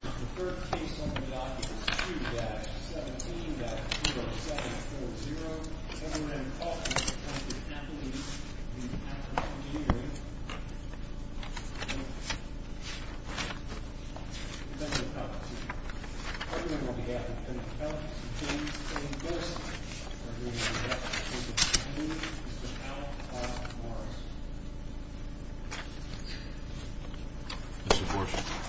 The third case on the docket is 2-17-0740. Kevin Randolph from Packer Engineering, Inc. I remember on behalf of Kevin Randolph and his team, we are here to present the case of Kevin Randolph v. Morris. Mr. Borshaw.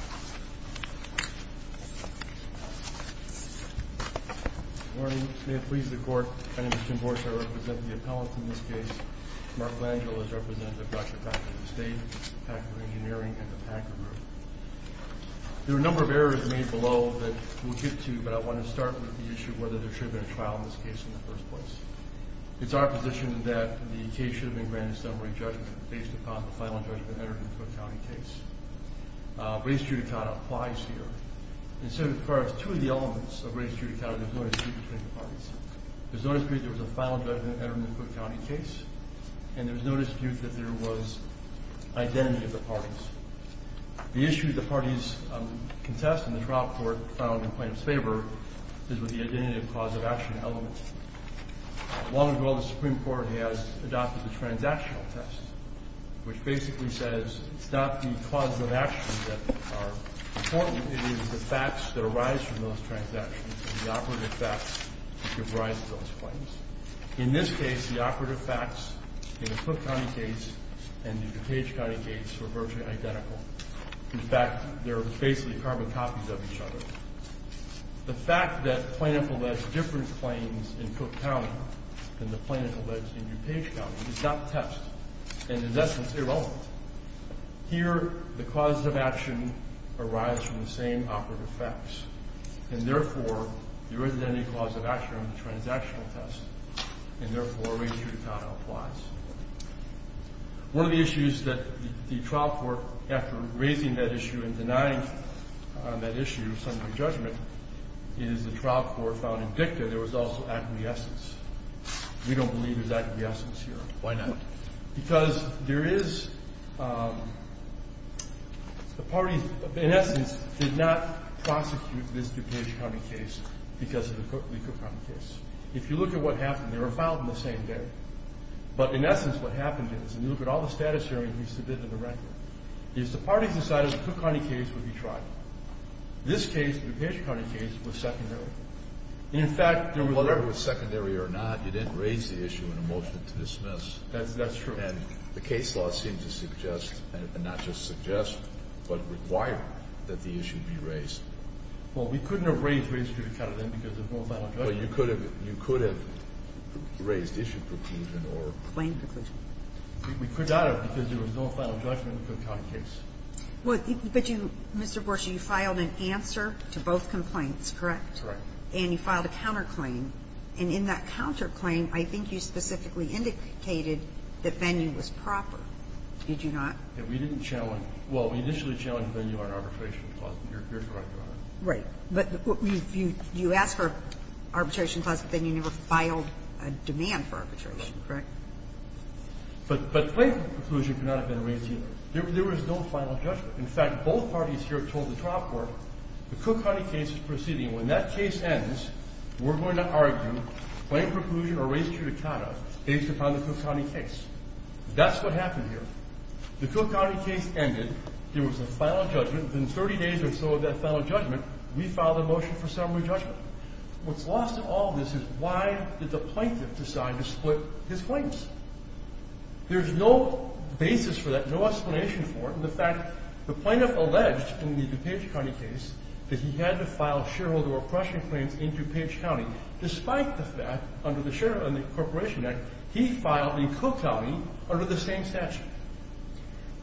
Good morning. May it please the Court. My name is Tim Borshaw. I represent the appellant in this case. Mark Langill is representative of Dr. Packer, the State, Packer Engineering, and the Packer Group. There are a number of errors made below that we'll get to, but I want to start with the issue of whether there should have been a trial in this case in the first place. It's our position that the case should have been granted a summary judgment based upon the final judgment entered in the Cook County case. Race judicata applies here. And so far as two of the elements of race judicata, there's no dispute between the parties. There's no dispute there was a final judgment entered in the Cook County case, and there's no dispute that there was identity of the parties. The issue the parties contest in the trial court found in plaintiff's favor is with the identity of cause of action elements. Long ago, the Supreme Court has adopted the transactional test, which basically says it's not the cause of action that are important, it is the facts that arise from those transactions, the operative facts that give rise to those claims. In this case, the operative facts in the Cook County case and the DuPage County case were virtually identical. In fact, they're basically carbon copies of each other. The fact that plaintiff alleged different claims in Cook County than the plaintiff alleged in DuPage County is not test, and in essence, irrelevant. Here, the cause of action arises from the same operative facts, and therefore, there is an identity cause of action on the transactional test, and therefore, race judicata applies. One of the issues that the trial court, after raising that issue and denying that issue, is the trial court found in dicta there was also acquiescence. We don't believe there's acquiescence here. Why not? Because there is the parties, in essence, did not prosecute this DuPage County case because of the Cook County case. If you look at what happened, they were filed on the same day, but in essence, what happened is, and you look at all the status hearings we submitted in the record, is the parties decided the Cook County case would be tried. This case, the DuPage County case, was secondary. And in fact, whether it was secondary or not, you didn't raise the issue in a motion to dismiss. That's true. And the case law seemed to suggest, and not just suggest, but require that the issue be raised. Well, we couldn't have raised race judicata then because there's no final judgment. Well, you could have raised issue preclusion or claim preclusion. We could not have because there was no final judgment in the Cook County case. Well, but you, Mr. Gorsuch, you filed an answer to both complaints, correct? That's right. And you filed a counterclaim. And in that counterclaim, I think you specifically indicated that venue was proper. Did you not? Yeah. We didn't challenge. Well, we initially challenged venue on arbitration clause. And you're correct on that. Right. But you asked for arbitration clause, but then you never filed a demand for arbitration, correct? But claim preclusion could not have been raised either. There was no final judgment. In fact, both parties here told the trial court the Cook County case is proceeding. When that case ends, we're going to argue claim preclusion or race judicata based upon the Cook County case. That's what happened here. The Cook County case ended. There was a final judgment. Within 30 days or so of that final judgment, we filed a motion for summary judgment. What's lost in all this is why did the plaintiff decide to split his claims? There's no basis for that, no explanation for it. In fact, the plaintiff alleged in the DuPage County case that he had to file shareholder oppression claims in DuPage County despite the fact under the Corporation Act he filed in Cook County under the same statute.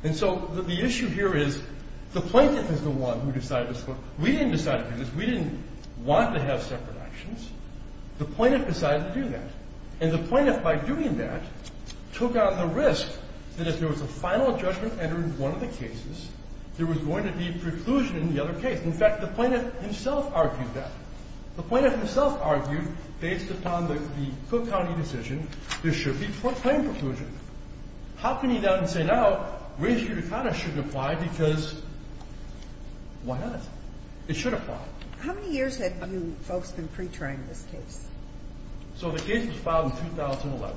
And so the issue here is the plaintiff is the one who decided to split. We didn't decide to do this. We didn't want to have separate actions. The plaintiff decided to do that. And the plaintiff, by doing that, took on the risk that if there was a final judgment entered in one of the cases, there was going to be preclusion in the other case. In fact, the plaintiff himself argued that. The plaintiff himself argued based upon the Cook County decision, there should be claim preclusion. How can he now say now race judicata shouldn't apply because why not? It should apply. How many years have you folks been pre-trying this case? So the case was filed in 2011.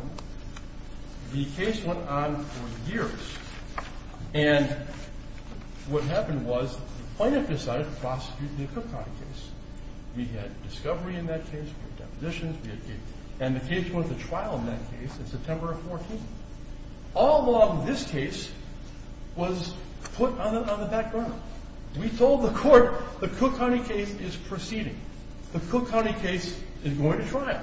The case went on for years. And what happened was the plaintiff decided to prosecute the Cook County case. We had discovery in that case. We had depositions. We had cases. And the case went to trial in that case in September of 14. All along, this case was put on the background. We told the court the Cook County case is proceeding. The Cook County case is going to trial.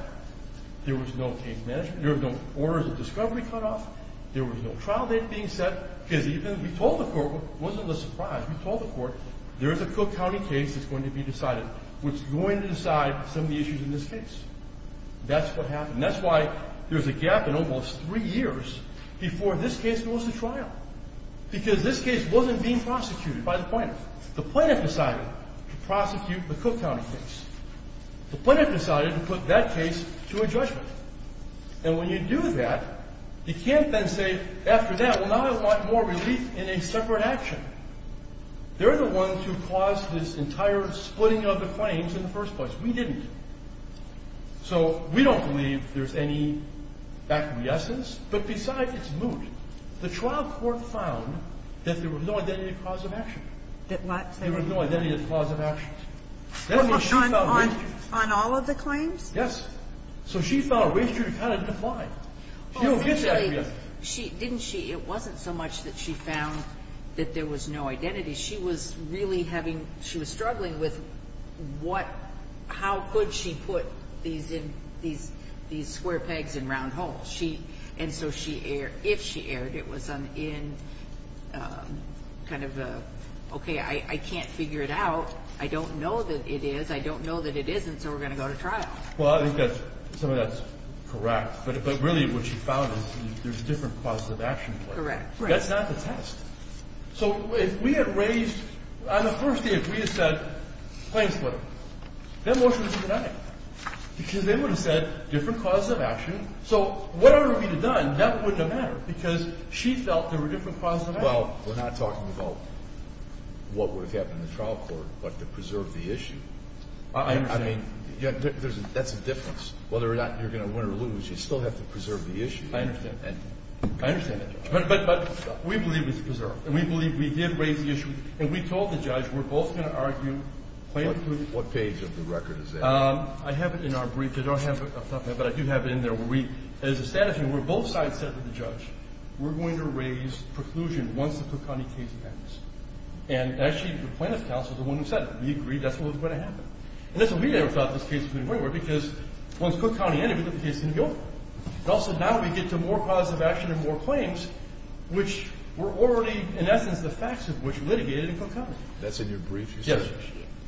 There was no case management. There were no orders of discovery cut off. There was no trial date being set. Because even if we told the court, it wasn't a surprise, we told the court, there is a Cook County case that's going to be decided. We're going to decide some of the issues in this case. That's what happened. That's why there's a gap in almost three years before this case goes to trial. Because this case wasn't being prosecuted by the plaintiff. The plaintiff decided to prosecute the Cook County case. The plaintiff decided to put that case to a judgment. And when you do that, you can't then say, after that, well, now I want more relief in a separate action. They're the ones who caused this entire splitting of the claims in the first place. We didn't. So we don't believe there's any back of the essence. But besides, it's moot. The trial court found that there was no identity of cause of action. There was no identity of cause of action. On all of the claims? Yes. So she found a way to kind of divide. She don't get that yet. Didn't she? It wasn't so much that she found that there was no identity. She was really having, she was struggling with what, how could she put these square pegs in round holes. And so if she erred, it was in kind of a, okay, I can't figure it out. I don't know that it is. I don't know that it isn't. So we're going to go to trial. Well, I think that some of that's correct. But really what she found is there's different causes of action. Correct. That's not the test. So if we had raised, on the first day, if we had said claims splitting, that motion would have been denied. Because they would have said different causes of action. So whatever would have been done, that wouldn't have mattered. Because she felt there were different causes of action. Well, we're not talking about what would have happened in the trial court, but to preserve the issue. I understand. I mean, that's a difference. Whether or not you're going to win or lose, you still have to preserve the issue. I understand that. I understand that. But we believe it's preserved. And we believe we did raise the issue. And we told the judge we're both going to argue. What page of the record is that? I have it in our brief. I don't have it up front, but I do have it in there. Where we, as a statute, we're both sides said to the judge, we're going to raise preclusion once the Cook County case ends. And, actually, the plaintiff's counsel is the one who said it. We agreed that's what was going to happen. And that's what we never thought this case was going to go anywhere, because once Cook County ended, we thought the case was going to be over. Also, now we get to more causes of action and more claims, which were already, in essence, the facts of which were litigated in Cook County. That's in your brief? Yes.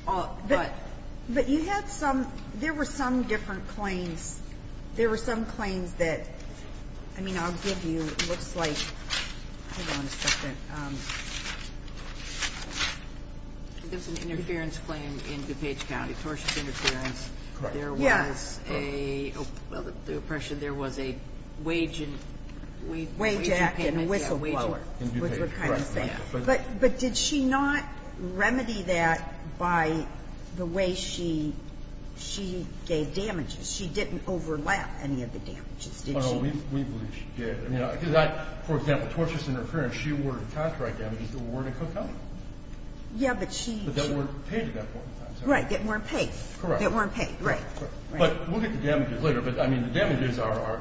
But you had some – there were some different claims. There were some claims that – I mean, I'll give you – it looks like – hold on a second. There was an interference claim in DuPage County, tortious interference. Correct. There was a – well, the oppression. There was a wage and – wage payments. Wage act and a whistleblower. In DuPage. Correct. But did she not remedy that by the way she gave damages? She didn't overlap any of the damages, did she? Oh, no. We believe she did. Because I – for example, tortious interference, she awarded copyright damages that were awarded in Cook County. Yeah, but she – But that weren't paid at that point in time, is that right? Right. That weren't paid. Correct. That weren't paid. Right. Right. But we'll get to damages later. But, I mean, the damages are a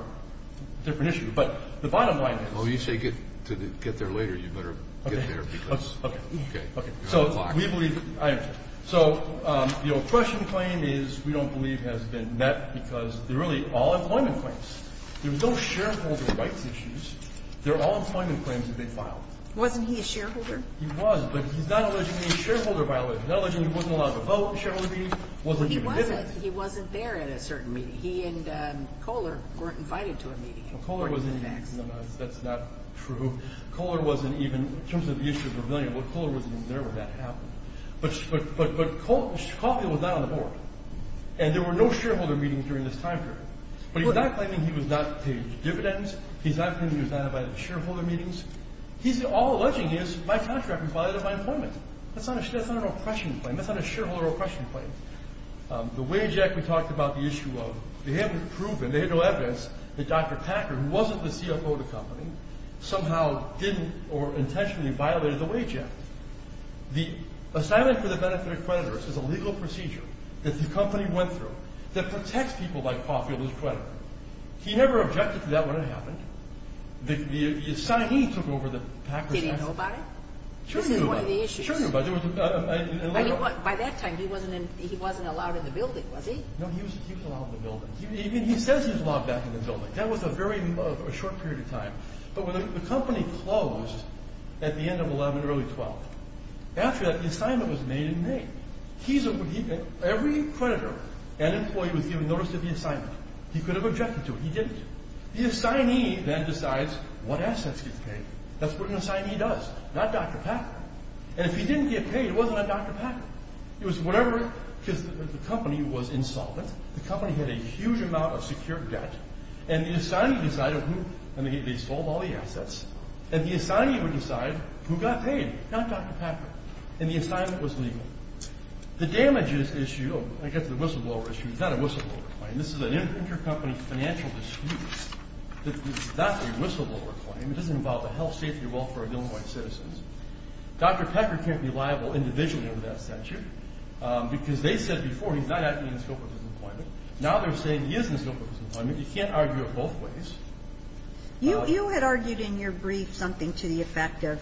different issue. But the bottom line is – Well, you say to get there later. You better get there because – Okay. Okay. Okay. Okay. So we believe – I understand. So the oppression claim is – we don't believe has been met because they're really all employment claims. There's no shareholder rights issues. They're all employment claims that they filed. Wasn't he a shareholder? He was. But he's not alleging any shareholder violations. Not alleging he wasn't allowed to vote in shareholder meetings. Wasn't even there. Well, he wasn't. He wasn't there at a certain meeting. He and Kohler weren't invited to a meeting. Well, Kohler wasn't even – According to the facts. That's not true. Kohler wasn't even – in terms of the issue of rebellion, well, Kohler wasn't even there when that happened. But Kohler was not on the board. And there were no shareholder meetings during this time period. But he's not claiming he was not paid dividends. He's not claiming he was not invited to shareholder meetings. He's all alleging his – my contract was violated at my employment. That's not an oppression claim. That's not a shareholder oppression claim. The wage act we talked about, the issue of – they haven't proven, they have no evidence, that Dr. Packer, who wasn't the CFO of the company, somehow didn't or intentionally violated the wage act. The assignment for the benefit of creditors is a legal procedure that the company went through that protects people like Pawfield, his creditor. He never objected to that when it happened. The assignee took over the Packer's – Did he know about it? Sure he knew about it. This is one of the issues. Sure he knew about it. By that time, he wasn't allowed in the building, was he? No, he was allowed in the building. He says he was allowed back in the building. That was a very – a short period of time. But when the company closed at the end of 11, early 12, after that, the assignment was made in May. Every creditor and employee was given notice of the assignment. He could have objected to it. He didn't. The assignee then decides what assets get paid. That's what an assignee does, not Dr. Packer. And if he didn't get paid, it wasn't on Dr. Packer. It was whatever – because the company was insolvent. The company had a huge amount of secured debt. And the assignee decided who – and they sold all the assets. And the assignee would decide who got paid, not Dr. Packer. And the assignment was legal. The damages issue – I get to the whistleblower issue. It's not a whistleblower claim. This is an intercompany financial dispute. This is not a whistleblower claim. It doesn't involve the health, safety, or welfare of Illinois citizens. Dr. Packer can't be liable individually under that statute because they said before he's not acting in the scope of his employment. Now they're saying he is in the scope of his employment. You can't argue it both ways. You had argued in your brief something to the effect of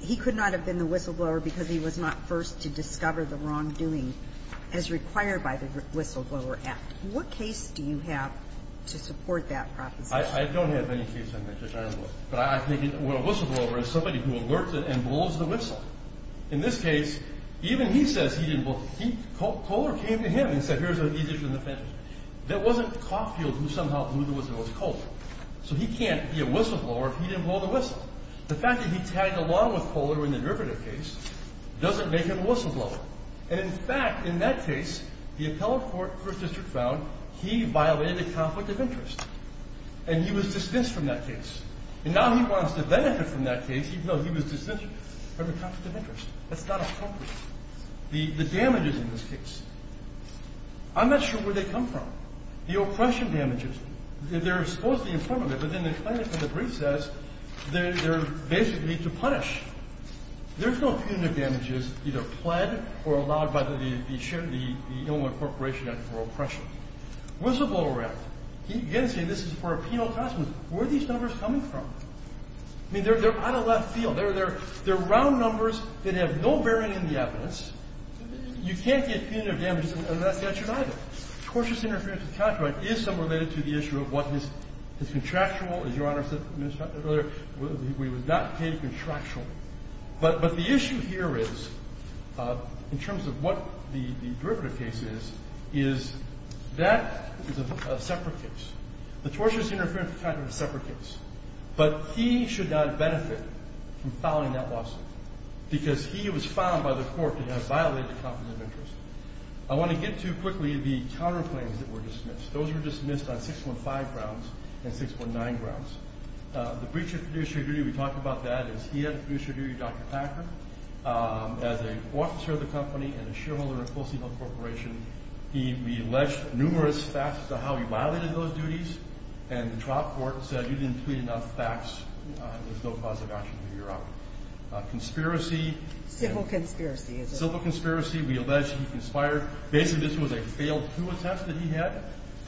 he could not have been the whistleblower because he was not first to discover the wrongdoing as required by the Whistleblower Act. What case do you have to support that proposition? I don't have any case on that, Judge Ironwood. But I think a whistleblower is somebody who alerts it and blows the whistle. In this case, even he says he didn't blow the whistle. Kohler came to him and said, here's an issue in the federal statute. It wasn't Caulfield who somehow blew the whistle. It was Kohler. So he can't be a whistleblower if he didn't blow the whistle. The fact that he tagged along with Kohler in the derivative case doesn't make him a whistleblower. And, in fact, in that case, the appellate court for a district found he violated a conflict of interest. And he was dismissed from that case. And now he wants to benefit from that case even though he was dismissed from the conflict of interest. That's not appropriate. The damage is in this case. I'm not sure where they come from. The oppression damages, they're supposed to be in front of it, but then they claim it for the briefs as they're basically to punish. There's no punitive damages either pled or allowed by the Illinois Corporation Act for oppression. Whistleblower act. You've got to say this is for a penal cost. Where are these numbers coming from? I mean, they're out of left field. They're round numbers that have no bearing in the evidence. You can't get punitive damages unless that's denied them. Tortious interference with contract is somewhat related to the issue of what is contractual. As Your Honor said earlier, he was not paid contractually. But the issue here is, in terms of what the derivative case is, is that is a separate case. The tortious interference with contract is a separate case. But he should not benefit from filing that lawsuit, because he was found by the court to have violated competent interest. I want to get to quickly the counterclaims that were dismissed. Those were dismissed on 615 grounds and 619 grounds. The breach of producer duty, we talked about that. He had a producer duty, Dr. Packer. As an officer of the company and a shareholder of Pulsey Health Corporation, he alleged numerous facets of how he violated those duties. And the trial court said, you didn't tweet enough facts. There's no positive action here, Your Honor. Conspiracy. Civil conspiracy. Civil conspiracy. We allege he conspired. Basically, this was a failed coup attempt that he had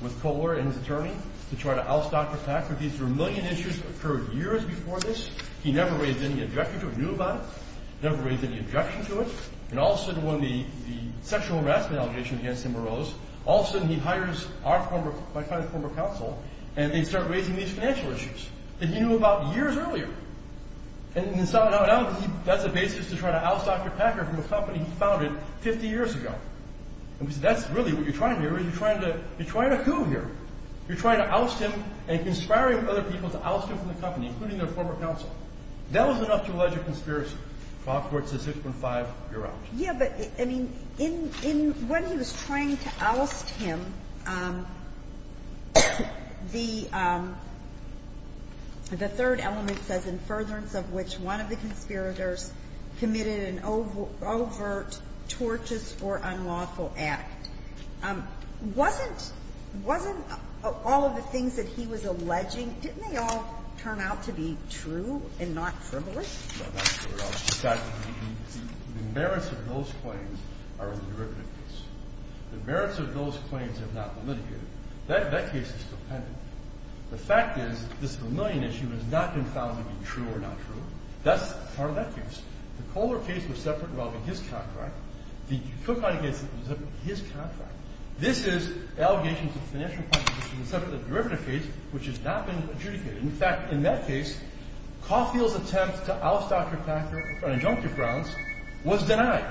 with Kohler and his attorney to try to oust Dr. Packer. These were a million issues that occurred years before this. He never raised any objection to it. He knew about it. He never raised any objection to it. And all of a sudden, when the sexual harassment allegation against him arose, all of a sudden, he hires my client's former counsel, and they start raising these financial issues that he knew about years earlier. And that's the basis to try to oust Dr. Packer from a company he founded 50 years ago. And we said, that's really what you're trying here. You're trying to coup here. You're trying to oust him and conspiring with other people to oust him from the company, including their former counsel. That was enough to allege a conspiracy. The law court says 6.5, you're out. Yeah, but, I mean, in when he was trying to oust him, the third element says, in furtherance of which one of the conspirators committed an overt, tortuous, or unlawful act. Wasn't all of the things that he was alleging, didn't they all turn out to be true and not frivolous? No, not true at all. In fact, the merits of those claims are in the derivative case. The merits of those claims have not been litigated. That case is compendium. The fact is, this Vermillion issue has not been found to be true or not true. That's part of that case. The Kohler case was separate involving his contract. The Cook-Heine case was his contract. This is allegations of financial punishment, which is a separate derivative case, which has not been adjudicated. In fact, in that case, Caulfield's attempt to oust Dr. Packer on injunctive grounds was denied.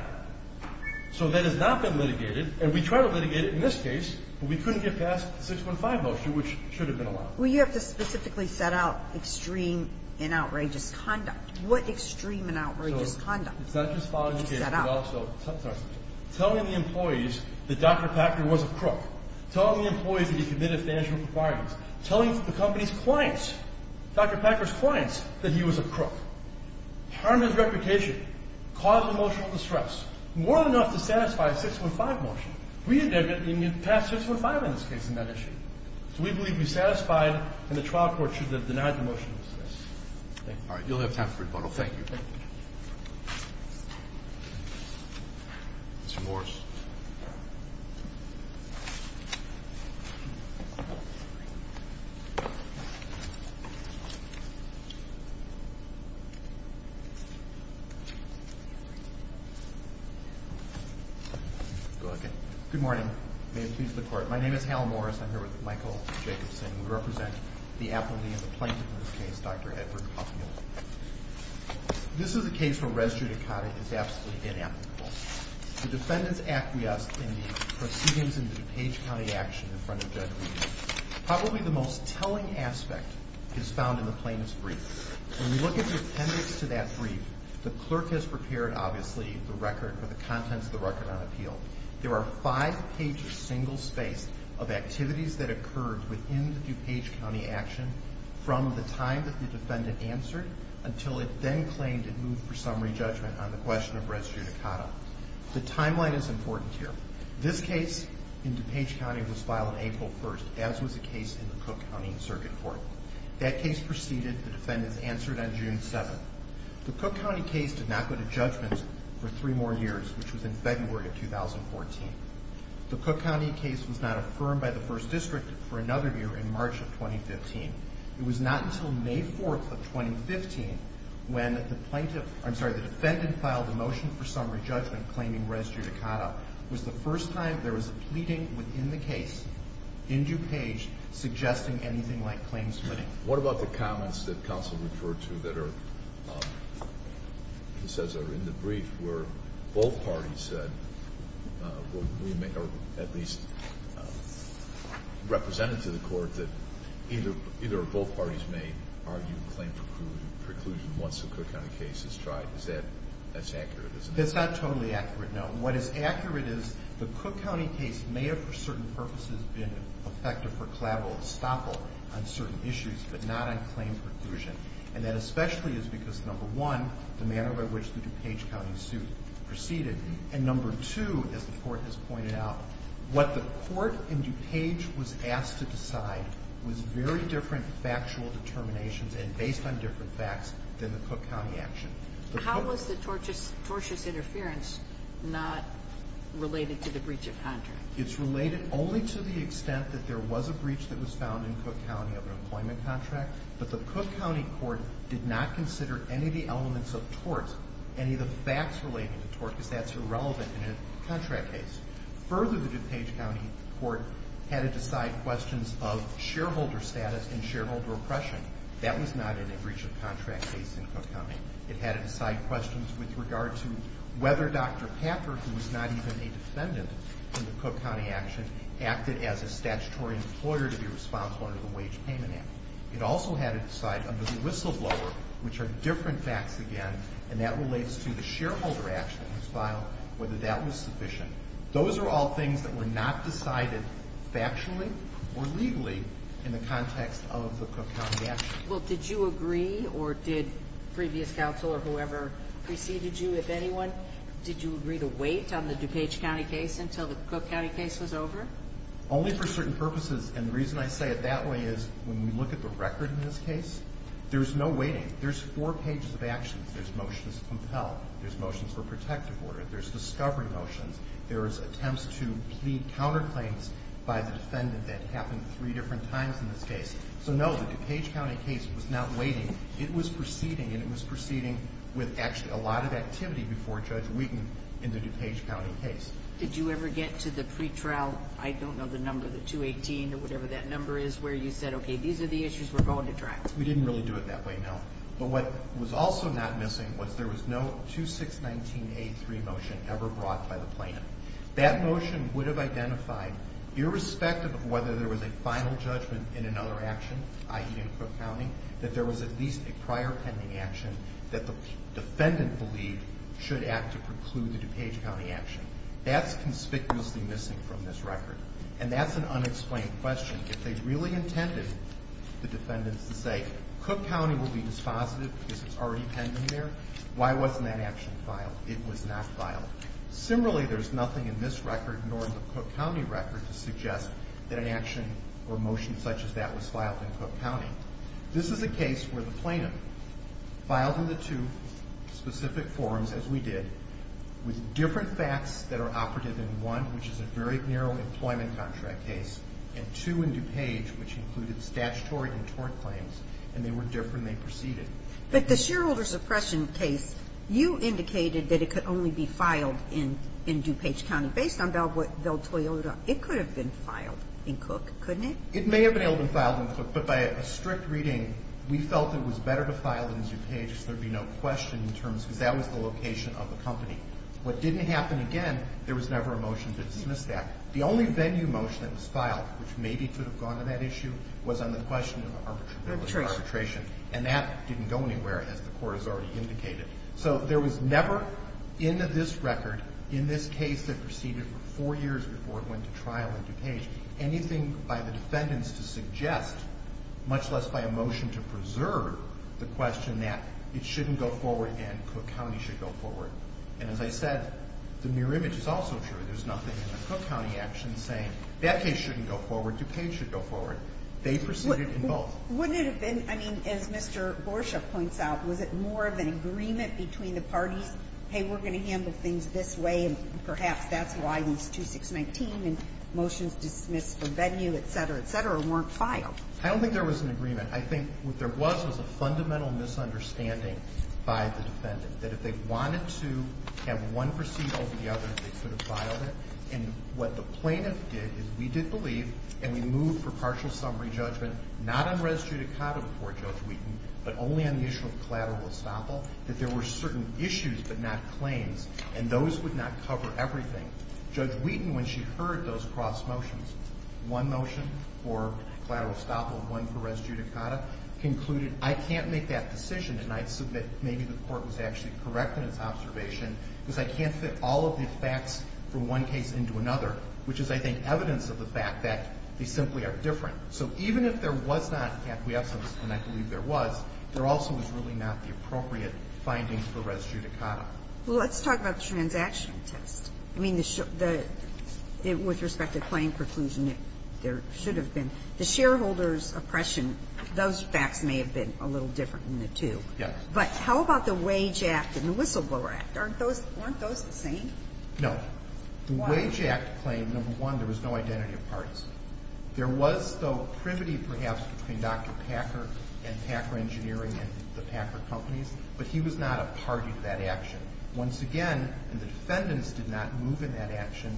So that has not been litigated. And we tried to litigate it in this case, but we couldn't get past the 6.5 motion, which should have been allowed. Well, you have to specifically set out extreme and outrageous conduct. What extreme and outrageous conduct? It's not just following the case, but also telling the employees that Dr. Packer was a crook. Telling the employees that he committed financial requirements. Telling the company's clients, Dr. Packer's clients, that he was a crook. Harmed his reputation. Caused emotional distress. More than enough to satisfy a 6.15 motion. We didn't get past 6.15 in this case in that issue. So we believe we satisfied, and the trial court should have denied the motion. Thank you. You'll have time for rebuttal. Thank you. Thank you. Mr. Morris. Go ahead again. Good morning. May it please the Court. My name is Hal Morris. I'm here with Michael Jacobson. We represent the appellee in the plaintiff in this case, Dr. Edward Huffman. This is a case where res judicata is absolutely inapplicable. The defendants acquiesced in the proceedings in the DuPage County action in front of Judge Reed. Probably the most telling aspect is found in the plaintiff's brief. When we look at the appendix to that brief, the clerk has prepared, obviously, the record or the contents of the record on appeal. There are five pages, single spaced, of activities that occurred within the DuPage County action from the time that the defendant answered until it then claimed it moved for summary judgment on the question of res judicata. The timeline is important here. This case in DuPage County was filed on April 1st, as was the case in the Cook County circuit court. That case proceeded. The defendants answered on June 7th. The Cook County case did not go to judgment for three more years, which was in February of 2014. The Cook County case was not affirmed by the first district for another year in March of 2015. It was not until May 4th of 2015 when the defendant filed a motion for summary judgment claiming res judicata. It was the first time there was a pleading within the case in DuPage suggesting anything like claims footing. What about the comments that counsel referred to that are in the brief where both parties said, or at least represented to the court, that either or both parties may argue a claim for preclusion once the Cook County case is tried? Is that as accurate as it is? It's not totally accurate, no. What is accurate is the Cook County case may have, for certain purposes, been effective for collateral estoppel on certain issues, but not on claim preclusion. And that especially is because, number one, the manner by which the DuPage County suit proceeded. And number two, as the Court has pointed out, what the Court in DuPage was asked to decide was very different factual determinations and based on different facts than the Cook County action. How was the tortious interference not related to the breach of contract? It's related only to the extent that there was a breach that was found in Cook County of an employment contract, but the Cook County Court did not consider any of the elements of torts, any of the facts related to torts, because that's irrelevant in a contract case. Further, the DuPage County Court had to decide questions of shareholder status and shareholder oppression. That was not in a breach of contract case in Cook County. It had to decide questions with regard to whether Dr. Packer, who was not even a defendant in the Cook County action, acted as a statutory employer to be responsible under the Wage Payment Act. It also had to decide under the whistleblower, which are different facts again, and that relates to the shareholder action that was filed, whether that was sufficient. Those are all things that were not decided factually or legally in the context of the Cook County action. Well, did you agree or did previous counsel or whoever preceded you, if anyone, did you agree to wait on the DuPage County case until the Cook County case was over? Only for certain purposes, and the reason I say it that way is when we look at the record in this case, there's no waiting. There's four pages of actions. There's motions to compel. There's motions for protective order. There's discovery motions. There's attempts to plead counterclaims by the defendant that happened three different times in this case. So, no, the DuPage County case was not waiting. It was proceeding, and it was proceeding with actually a lot of activity before Judge Wheaton in the DuPage County case. Did you ever get to the pretrial, I don't know the number, the 218 or whatever that number is, where you said, okay, these are the issues we're going to try? We didn't really do it that way, no. But what was also not missing was there was no 2619A3 motion ever brought by the plaintiff. That motion would have identified, irrespective of whether there was a final judgment in another action, i.e. in Cook County, that there was at least a prior pending action that the defendant believed should act to preclude the DuPage County action. That's conspicuously missing from this record, and that's an unexplained question. If they really intended the defendants to say, Cook County will be dispositive because it's already pending there, why wasn't that action filed? It was not filed. Similarly, there's nothing in this record, nor in the Cook County record, to suggest that an action or motion such as that was filed in Cook County. This is a case where the plaintiff filed in the two specific forms, as we did, with different facts that are operative in one, which is a very narrow employment contract case, and two in DuPage, which included statutory and tort claims, and they were different. They proceeded. But the shareholder suppression case, you indicated that it could only be filed in DuPage County. Based on Belle Toyota, it could have been filed in Cook, couldn't it? It may have been able to be filed in Cook, but by a strict reading, we felt it was better to file in DuPage so there would be no question in terms because that was the location of the company. What didn't happen again, there was never a motion to dismiss that. The only venue motion that was filed, which maybe could have gone to that issue, was on the question of arbitration, and that didn't go anywhere, as the Court has already indicated. So there was never in this record, in this case that proceeded for four years before it went to trial in DuPage, anything by the defendants to suggest, much less by a motion to preserve, the question that it shouldn't go forward and Cook County should go forward. And as I said, the mirror image is also true. There's nothing in the Cook County actions saying that case shouldn't go forward, DuPage should go forward. They proceeded in both. Wouldn't it have been, I mean, as Mr. Gorsuch points out, was it more of an agreement between the parties, hey, we're going to handle things this way, and perhaps that's why these 2619 and motions dismissed for venue, et cetera, et cetera, weren't filed? I don't think there was an agreement. I think what there was was a fundamental misunderstanding by the defendant, that if they wanted to have one proceed over the other, they could have filed it. And what the plaintiff did is we did believe, and we moved for partial summary judgment, not on res judicata before Judge Wheaton, but only on the issue of collateral estoppel, that there were certain issues, but not claims, and those would not cover everything. Judge Wheaton, when she heard those cross motions, one motion for collateral estoppel, one for res judicata, concluded, I can't make that decision, and I submit maybe the Court was actually correct in its observation, because I can't fit all of the facts from one case into another, which is, I think, evidence of the fact that they simply are different. So even if there was not acquiescence, and I believe there was, there also was really not the appropriate findings for res judicata. Well, let's talk about the transaction test. I mean, with respect to claim preclusion, there should have been. The shareholders' oppression, those facts may have been a little different than the two. Yes. But how about the Wage Act and the Whistleblower Act? Aren't those the same? No. Why? The Wage Act claimed, number one, there was no identity of parties. There was, though, a primity, perhaps, between Dr. Packer and Packer Engineering and the Packer companies, but he was not a party to that action. Once again, the defendants did not move in that action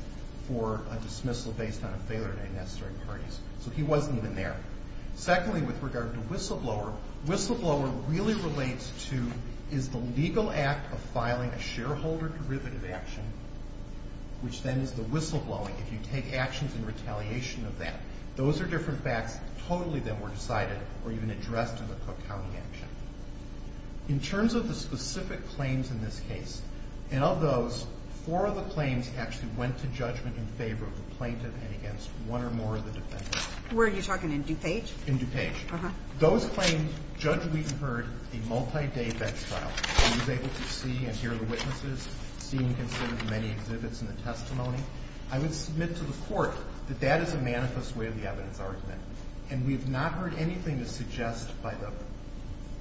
for a dismissal based on a failure in any necessary parties. So he wasn't even there. Secondly, with regard to Whistleblower, Whistleblower really relates to is the legal act of filing a shareholder derivative action, which then is the whistleblowing, if you take actions in retaliation of that. Those are different facts totally that were decided or even addressed in the Cook County action. In terms of the specific claims in this case, and of those, four of the claims actually went to judgment in favor of the plaintiff and against one or more of the defendants. Where are you talking, in DuPage? In DuPage. Uh-huh. Those claims, Judge Wheaton heard a multi-day bench trial. He was able to see and hear the witnesses, see and consider the many exhibits in the testimony. I would submit to the Court that that is a manifest way of the evidence argument, and we have not heard anything to suggest by the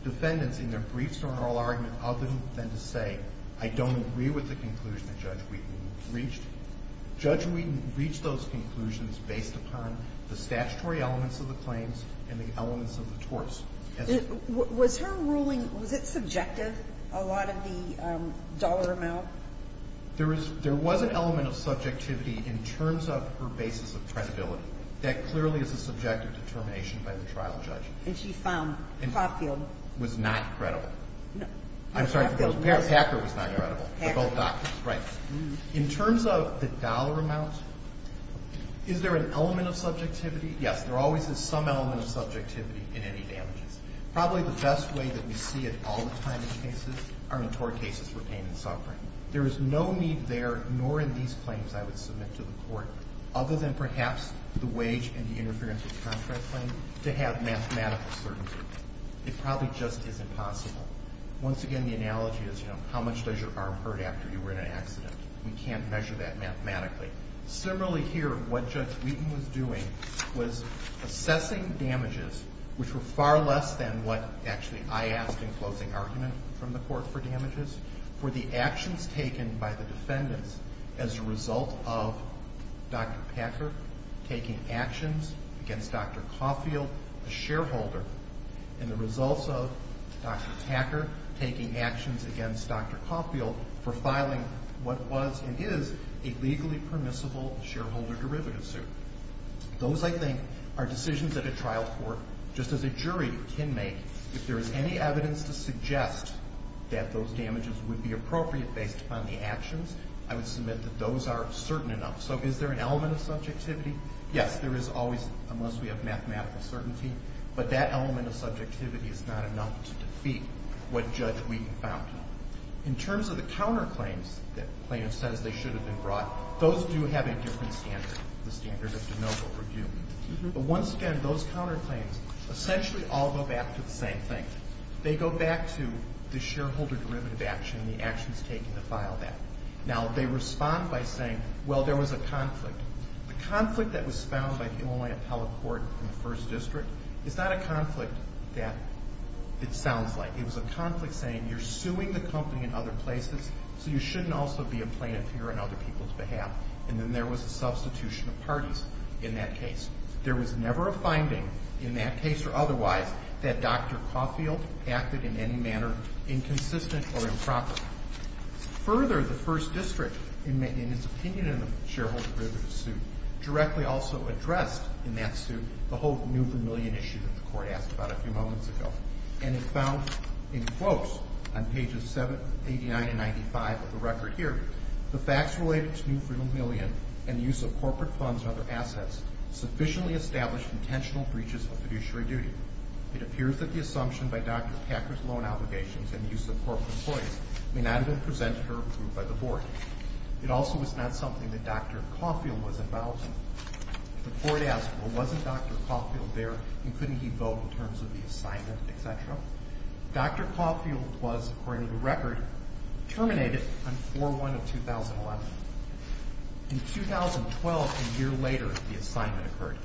defendants in their briefs or oral argument other than to say, I don't agree with the conclusion that Judge Wheaton reached. Judge Wheaton reached those conclusions based upon the statutory elements of the claims and the elements of the torts. Was her ruling, was it subjective, a lot of the dollar amount? There was an element of subjectivity in terms of her basis of credibility. That clearly is a subjective determination by the trial judge. And she found Hockfield. Was not credible. No. I'm sorry for those. Hockfield was. Hacker was not credible. Hacker. They're all doctors. Right. In terms of the dollar amount, is there an element of subjectivity? Yes. There always is some element of subjectivity in any damages. Probably the best way that we see it all the time in cases, are in tort cases for pain and suffering. There is no need there, nor in these claims I would submit to the Court, other than perhaps the wage and the interference with contract claim, to have mathematical certainty. It probably just isn't possible. Once again, the analogy is, you know, how much does your arm hurt after you were in an accident? We can't measure that mathematically. Similarly here, what Judge Wheaton was doing was assessing damages, which were far less than what, actually, I asked in closing argument from the Court for damages, for the actions taken by the defendants as a result of Dr. Packer taking actions against Dr. Hockfield, a shareholder, and the results of Dr. Packer taking actions against Dr. Hockfield for filing what was and is a legally permissible shareholder derivative suit. Those, I think, are decisions that a trial court, just as a jury, can make. If there is any evidence to suggest that those damages would be appropriate based upon the actions, I would submit that those are certain enough. So is there an element of subjectivity? Yes, there is always, unless we have mathematical certainty. But that element of subjectivity is not enough to defeat what Judge Wheaton found. In terms of the counterclaims that plaintiff says they should have been brought, those do have a different standard, the standard of de novo review. But once again, those counterclaims essentially all go back to the same thing. They go back to the shareholder derivative action and the actions taken to file that. Now, they respond by saying, well, there was a conflict. The conflict that was found by the Illinois Appellate Court in the First District is not a conflict that it sounds like. It was a conflict saying you're suing the company in other places, so you shouldn't also be a plaintiff here on other people's behalf. And then there was a substitution of parties in that case. There was never a finding in that case or otherwise that Dr. Hockfield acted in any manner inconsistent or improper. Further, the First District, in its opinion in the shareholder derivative suit, directly also addressed in that suit the whole Newford Million issue that the Court asked about a few moments ago. And it found in quotes on pages 7, 89, and 95 of the record here, the facts related to Newford Million and the use of corporate funds or other assets sufficiently established intentional breaches of fiduciary duty. It appears that the assumption by Dr. Packer's loan obligations and use of corporate employees may not have been presented or approved by the Board. It also was not something that Dr. Caulfield was involved in. The Court asked, well, wasn't Dr. Caulfield there, and couldn't he vote in terms of the assignment, et cetera? Dr. Caulfield was, according to the record, terminated on 4-1 of 2011. In 2012, a year later, the assignment occurred.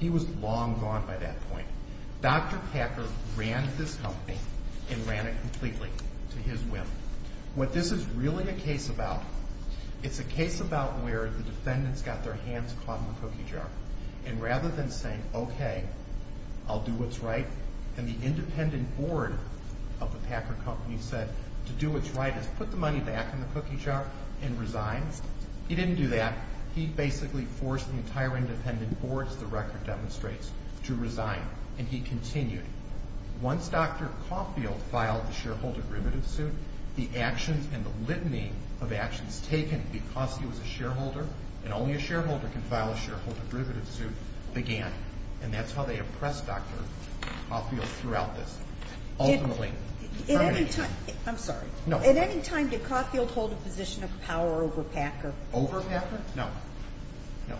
He was long gone by that point. Dr. Packer ran this company and ran it completely to his whim. What this is really a case about, it's a case about where the defendants got their hands caught in the cookie jar. And rather than saying, okay, I'll do what's right, and the independent board of the Packer Company said to do what's right is put the money back in the cookie jar and resign. He didn't do that. He basically forced the entire independent board, as the record demonstrates, to resign. And he continued. Once Dr. Caulfield filed the shareholder derivative suit, the actions and the litany of actions taken because he was a shareholder and only a shareholder can file a shareholder derivative suit began. And that's how they oppressed Dr. Caulfield throughout this. Ultimately, termination. I'm sorry. No. At any time did Caulfield hold a position of power over Packer? Over Packer? No. No.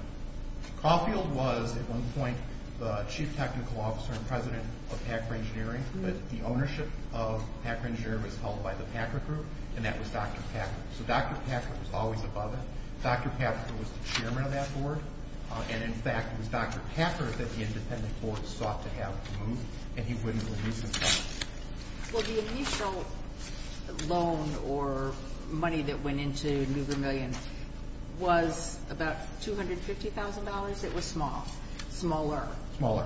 Caulfield was at one point the chief technical officer and president of Packer Engineering. The ownership of Packer Engineering was held by the Packer Group, and that was Dr. Packer. So Dr. Packer was always above it. Dr. Packer was the chairman of that board. And, in fact, it was Dr. Packer that the independent board sought to have removed, and he wouldn't release himself. Well, the initial loan or money that went into New Vermillion was about $250,000. It was small. Smaller. Smaller.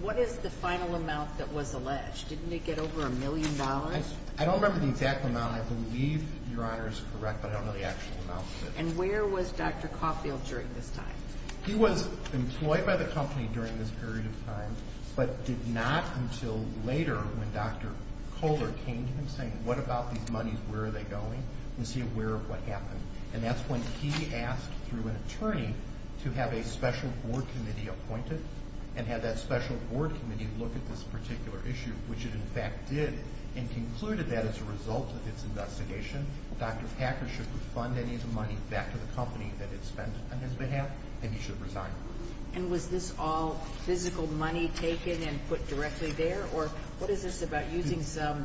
What is the final amount that was alleged? Didn't it get over a million dollars? I don't remember the exact amount. I believe Your Honor is correct, but I don't know the actual amount. And where was Dr. Caulfield during this time? He was employed by the company during this period of time, but did not until later when Dr. Kohler came to him saying, what about these monies, where are they going? Was he aware of what happened? And that's when he asked through an attorney to have a special board committee appointed and have that special board committee look at this particular issue, which it, in fact, did, and concluded that as a result of its investigation, Dr. Packer should refund any of the money back to the company that it spent on his behalf. And he should resign. And was this all physical money taken and put directly there, or what is this about using some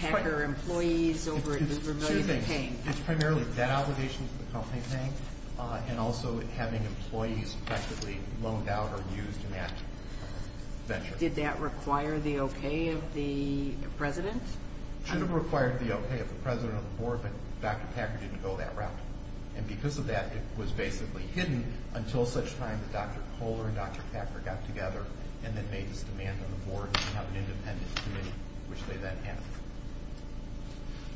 Packer employees over at New Vermillion to pay him? It's primarily debt obligations that the company is paying and also having employees practically loaned out or used in that venture. Did that require the okay of the president? It should have required the okay of the president of the board, but Dr. Packer didn't go that route. And because of that, it was basically hidden until such time that Dr. Kohler and Dr. Packer got together and then made this demand on the board to have an independent committee, which they then had.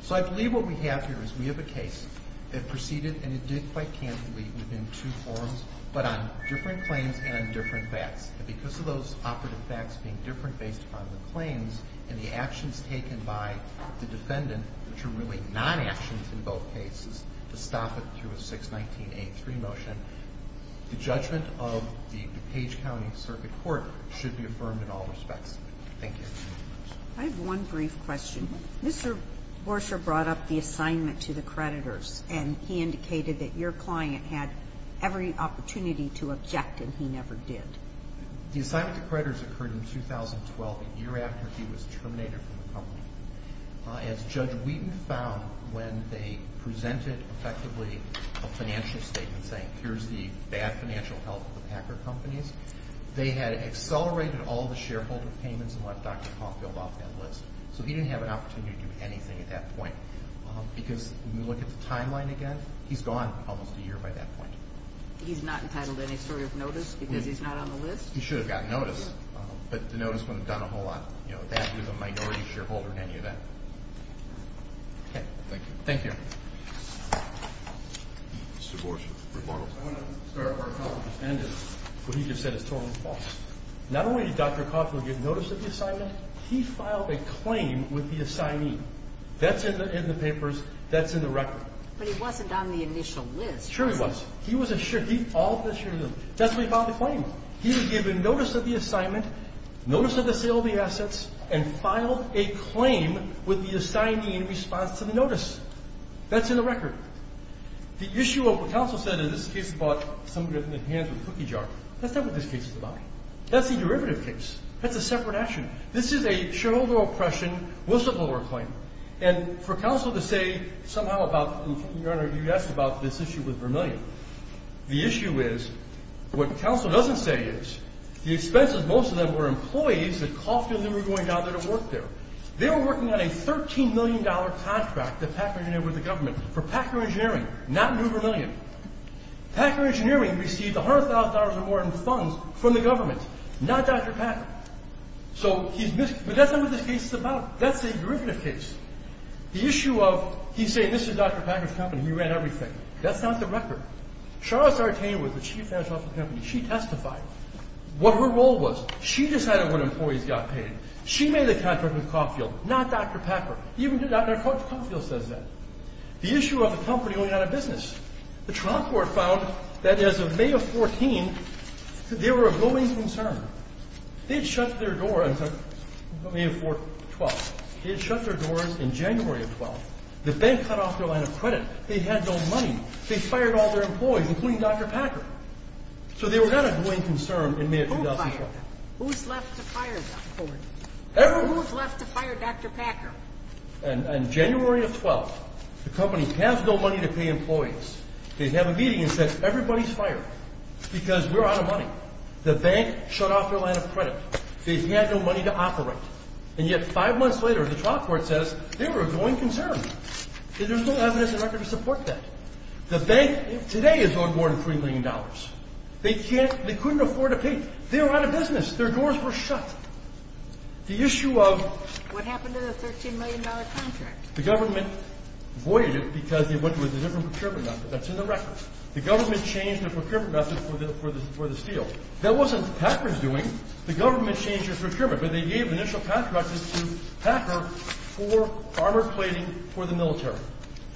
So I believe what we have here is we have a case that proceeded, and it did quite candidly within two forums, but on different claims and on different facts. And because of those operative facts being different based upon the claims and the actions taken by the defendant, which are really non-actions in both cases, to stop it through a 619A3 motion, the judgment of the Page County Circuit Court should be affirmed in all respects. Thank you. I have one brief question. Mr. Borscher brought up the assignment to the creditors, and he indicated that your client had every opportunity to object, and he never did. The assignment to creditors occurred in 2012, a year after he was terminated from the company. As Judge Wheaton found when they presented effectively a financial statement saying, here's the bad financial health of the Packer companies, they had accelerated all the shareholder payments and left Dr. Caulfield off that list. So he didn't have an opportunity to do anything at that point, because when you look at the timeline again, he's gone almost a year by that point. He's not entitled to any sort of notice because he's not on the list? He should have gotten notice, but the notice would have done a whole lot. You know, that is a minority shareholder in any event. Okay. Thank you. Thank you. Mr. Borscher, rebuttal. I want to start off where Caulfield just ended. What he just said is totally false. Not only did Dr. Caulfield get notice of the assignment, he filed a claim with the assignee. That's in the papers. That's in the record. But he wasn't on the initial list. Sure he was. He was assured. All of us assured of him. That's why he filed the claim. He was given notice of the assignment, notice of the sale of the assets, and filed a claim with the assignee in response to the notice. That's in the record. The issue of what counsel said in this case about somebody with their hands in a cookie jar, that's not what this case is about. That's the derivative case. That's a separate action. This is a shareholder oppression, whistleblower claim. And for counsel to say somehow about, Your Honor, you asked about this issue with Vermillion. The issue is, what counsel doesn't say is, the expenses, most of them were employees at Caulfield who were going down there to work there. They were working on a $13 million contract at Packer Engineering with the government for Packer Engineering, not New Vermillion. Packer Engineering received $100,000 or more in funds from the government. Not Dr. Packer. But that's not what this case is about. That's a derivative case. The issue of, he's saying this is Dr. Packer's company, he ran everything. That's not the record. Charles Sartain was the chief financial officer of the company. She testified what her role was. She decided what employees got paid. She made the contract with Caulfield, not Dr. Packer. Even Dr. Caulfield says that. The issue of the company only had a business. The trial court found that as of May of 2014, there were a growing concern. They had shut their door until May of 2012. They had shut their doors in January of 2012. The bank cut off their line of credit. They had no money. They fired all their employees, including Dr. Packer. So they were not a growing concern in May of 2012. Who fired them? Who's left to fire them? Who's left to fire Dr. Packer? In January of 2012, the company has no money to pay employees. They have a meeting and say everybody's fired because we're out of money. The bank shut off their line of credit. They had no money to operate. And yet five months later, the trial court says they were a growing concern. There's no evidence in record to support that. The bank today is on more than $3 million. They couldn't afford to pay. They were out of business. Their doors were shut. The issue of— What happened to the $13 million contract? The government voided it because they went with a different procurement method. That's in the record. The government changed the procurement method for the steel. That wasn't Packer's doing. The government changed their procurement. But they gave initial contracts to Packer for armored plating for the military.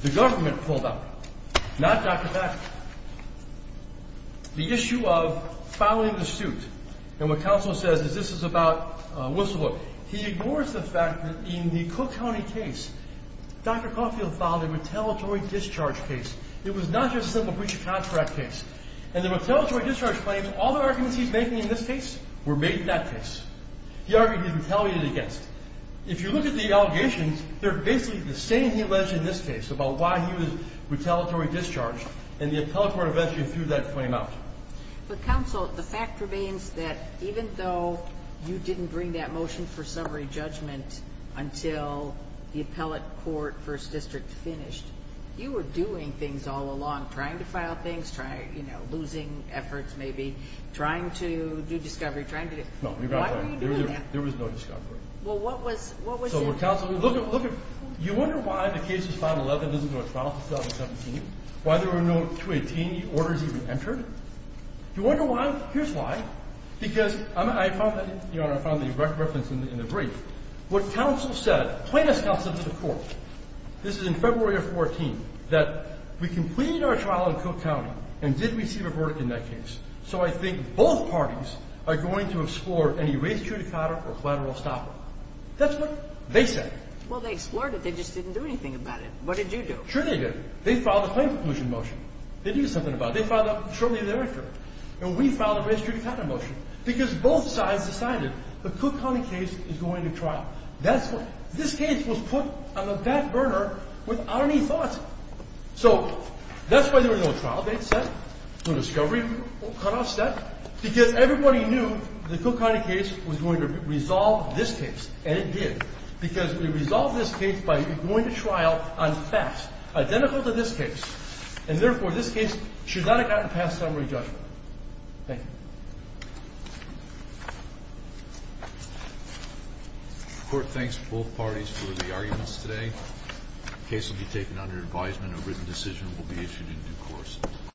The government pulled out, not Dr. Packer. The issue of filing the suit, and what counsel says is this is about whistleblowing. He ignores the fact that in the Cook County case, Dr. Caulfield filed a retaliatory discharge case. It was not just a simple breach of contract case. And the retaliatory discharge claims, all the arguments he's making in this case were made in that case. He argued he retaliated against it. If you look at the allegations, they're basically the same he alleged in this case about why he was retaliatory discharged. And the appellate court eventually threw that claim out. But, counsel, the fact remains that even though you didn't bring that motion for summary judgment until the appellate court first district finished, you were doing things all along, trying to file things, losing efforts maybe, trying to do discovery, trying to do— Why were you doing that? There was no discovery. Well, what was— So, counsel, look at—you wonder why the case of 511 isn't going to trial in 2017? Why there were no 218 orders even entered? You wonder why? Here's why. Because I found the reference in the brief. What counsel said, plaintiff's counsel to the court, this is in February of 14, that we completed our trial in Cook County and did receive a verdict in that case. So I think both parties are going to explore any race judicata or collateral stopper. That's what they said. Well, they explored it. They just didn't do anything about it. What did you do? Sure they did. They filed a claim conclusion motion. They did something about it. They filed that shortly thereafter. And we filed a race judicata motion because both sides decided the Cook County case is going to trial. That's what—this case was put on the back burner without any thought. So that's why there was no trial. That's what they said. No discovery cutoff said. Because everybody knew the Cook County case was going to resolve this case, and it did. Because we resolved this case by going to trial on facts identical to this case. And, therefore, this case should not have gotten past summary judgment. Thank you. The Court thanks both parties for the arguments today. The case will be taken under advisement. A written decision will be issued in due course.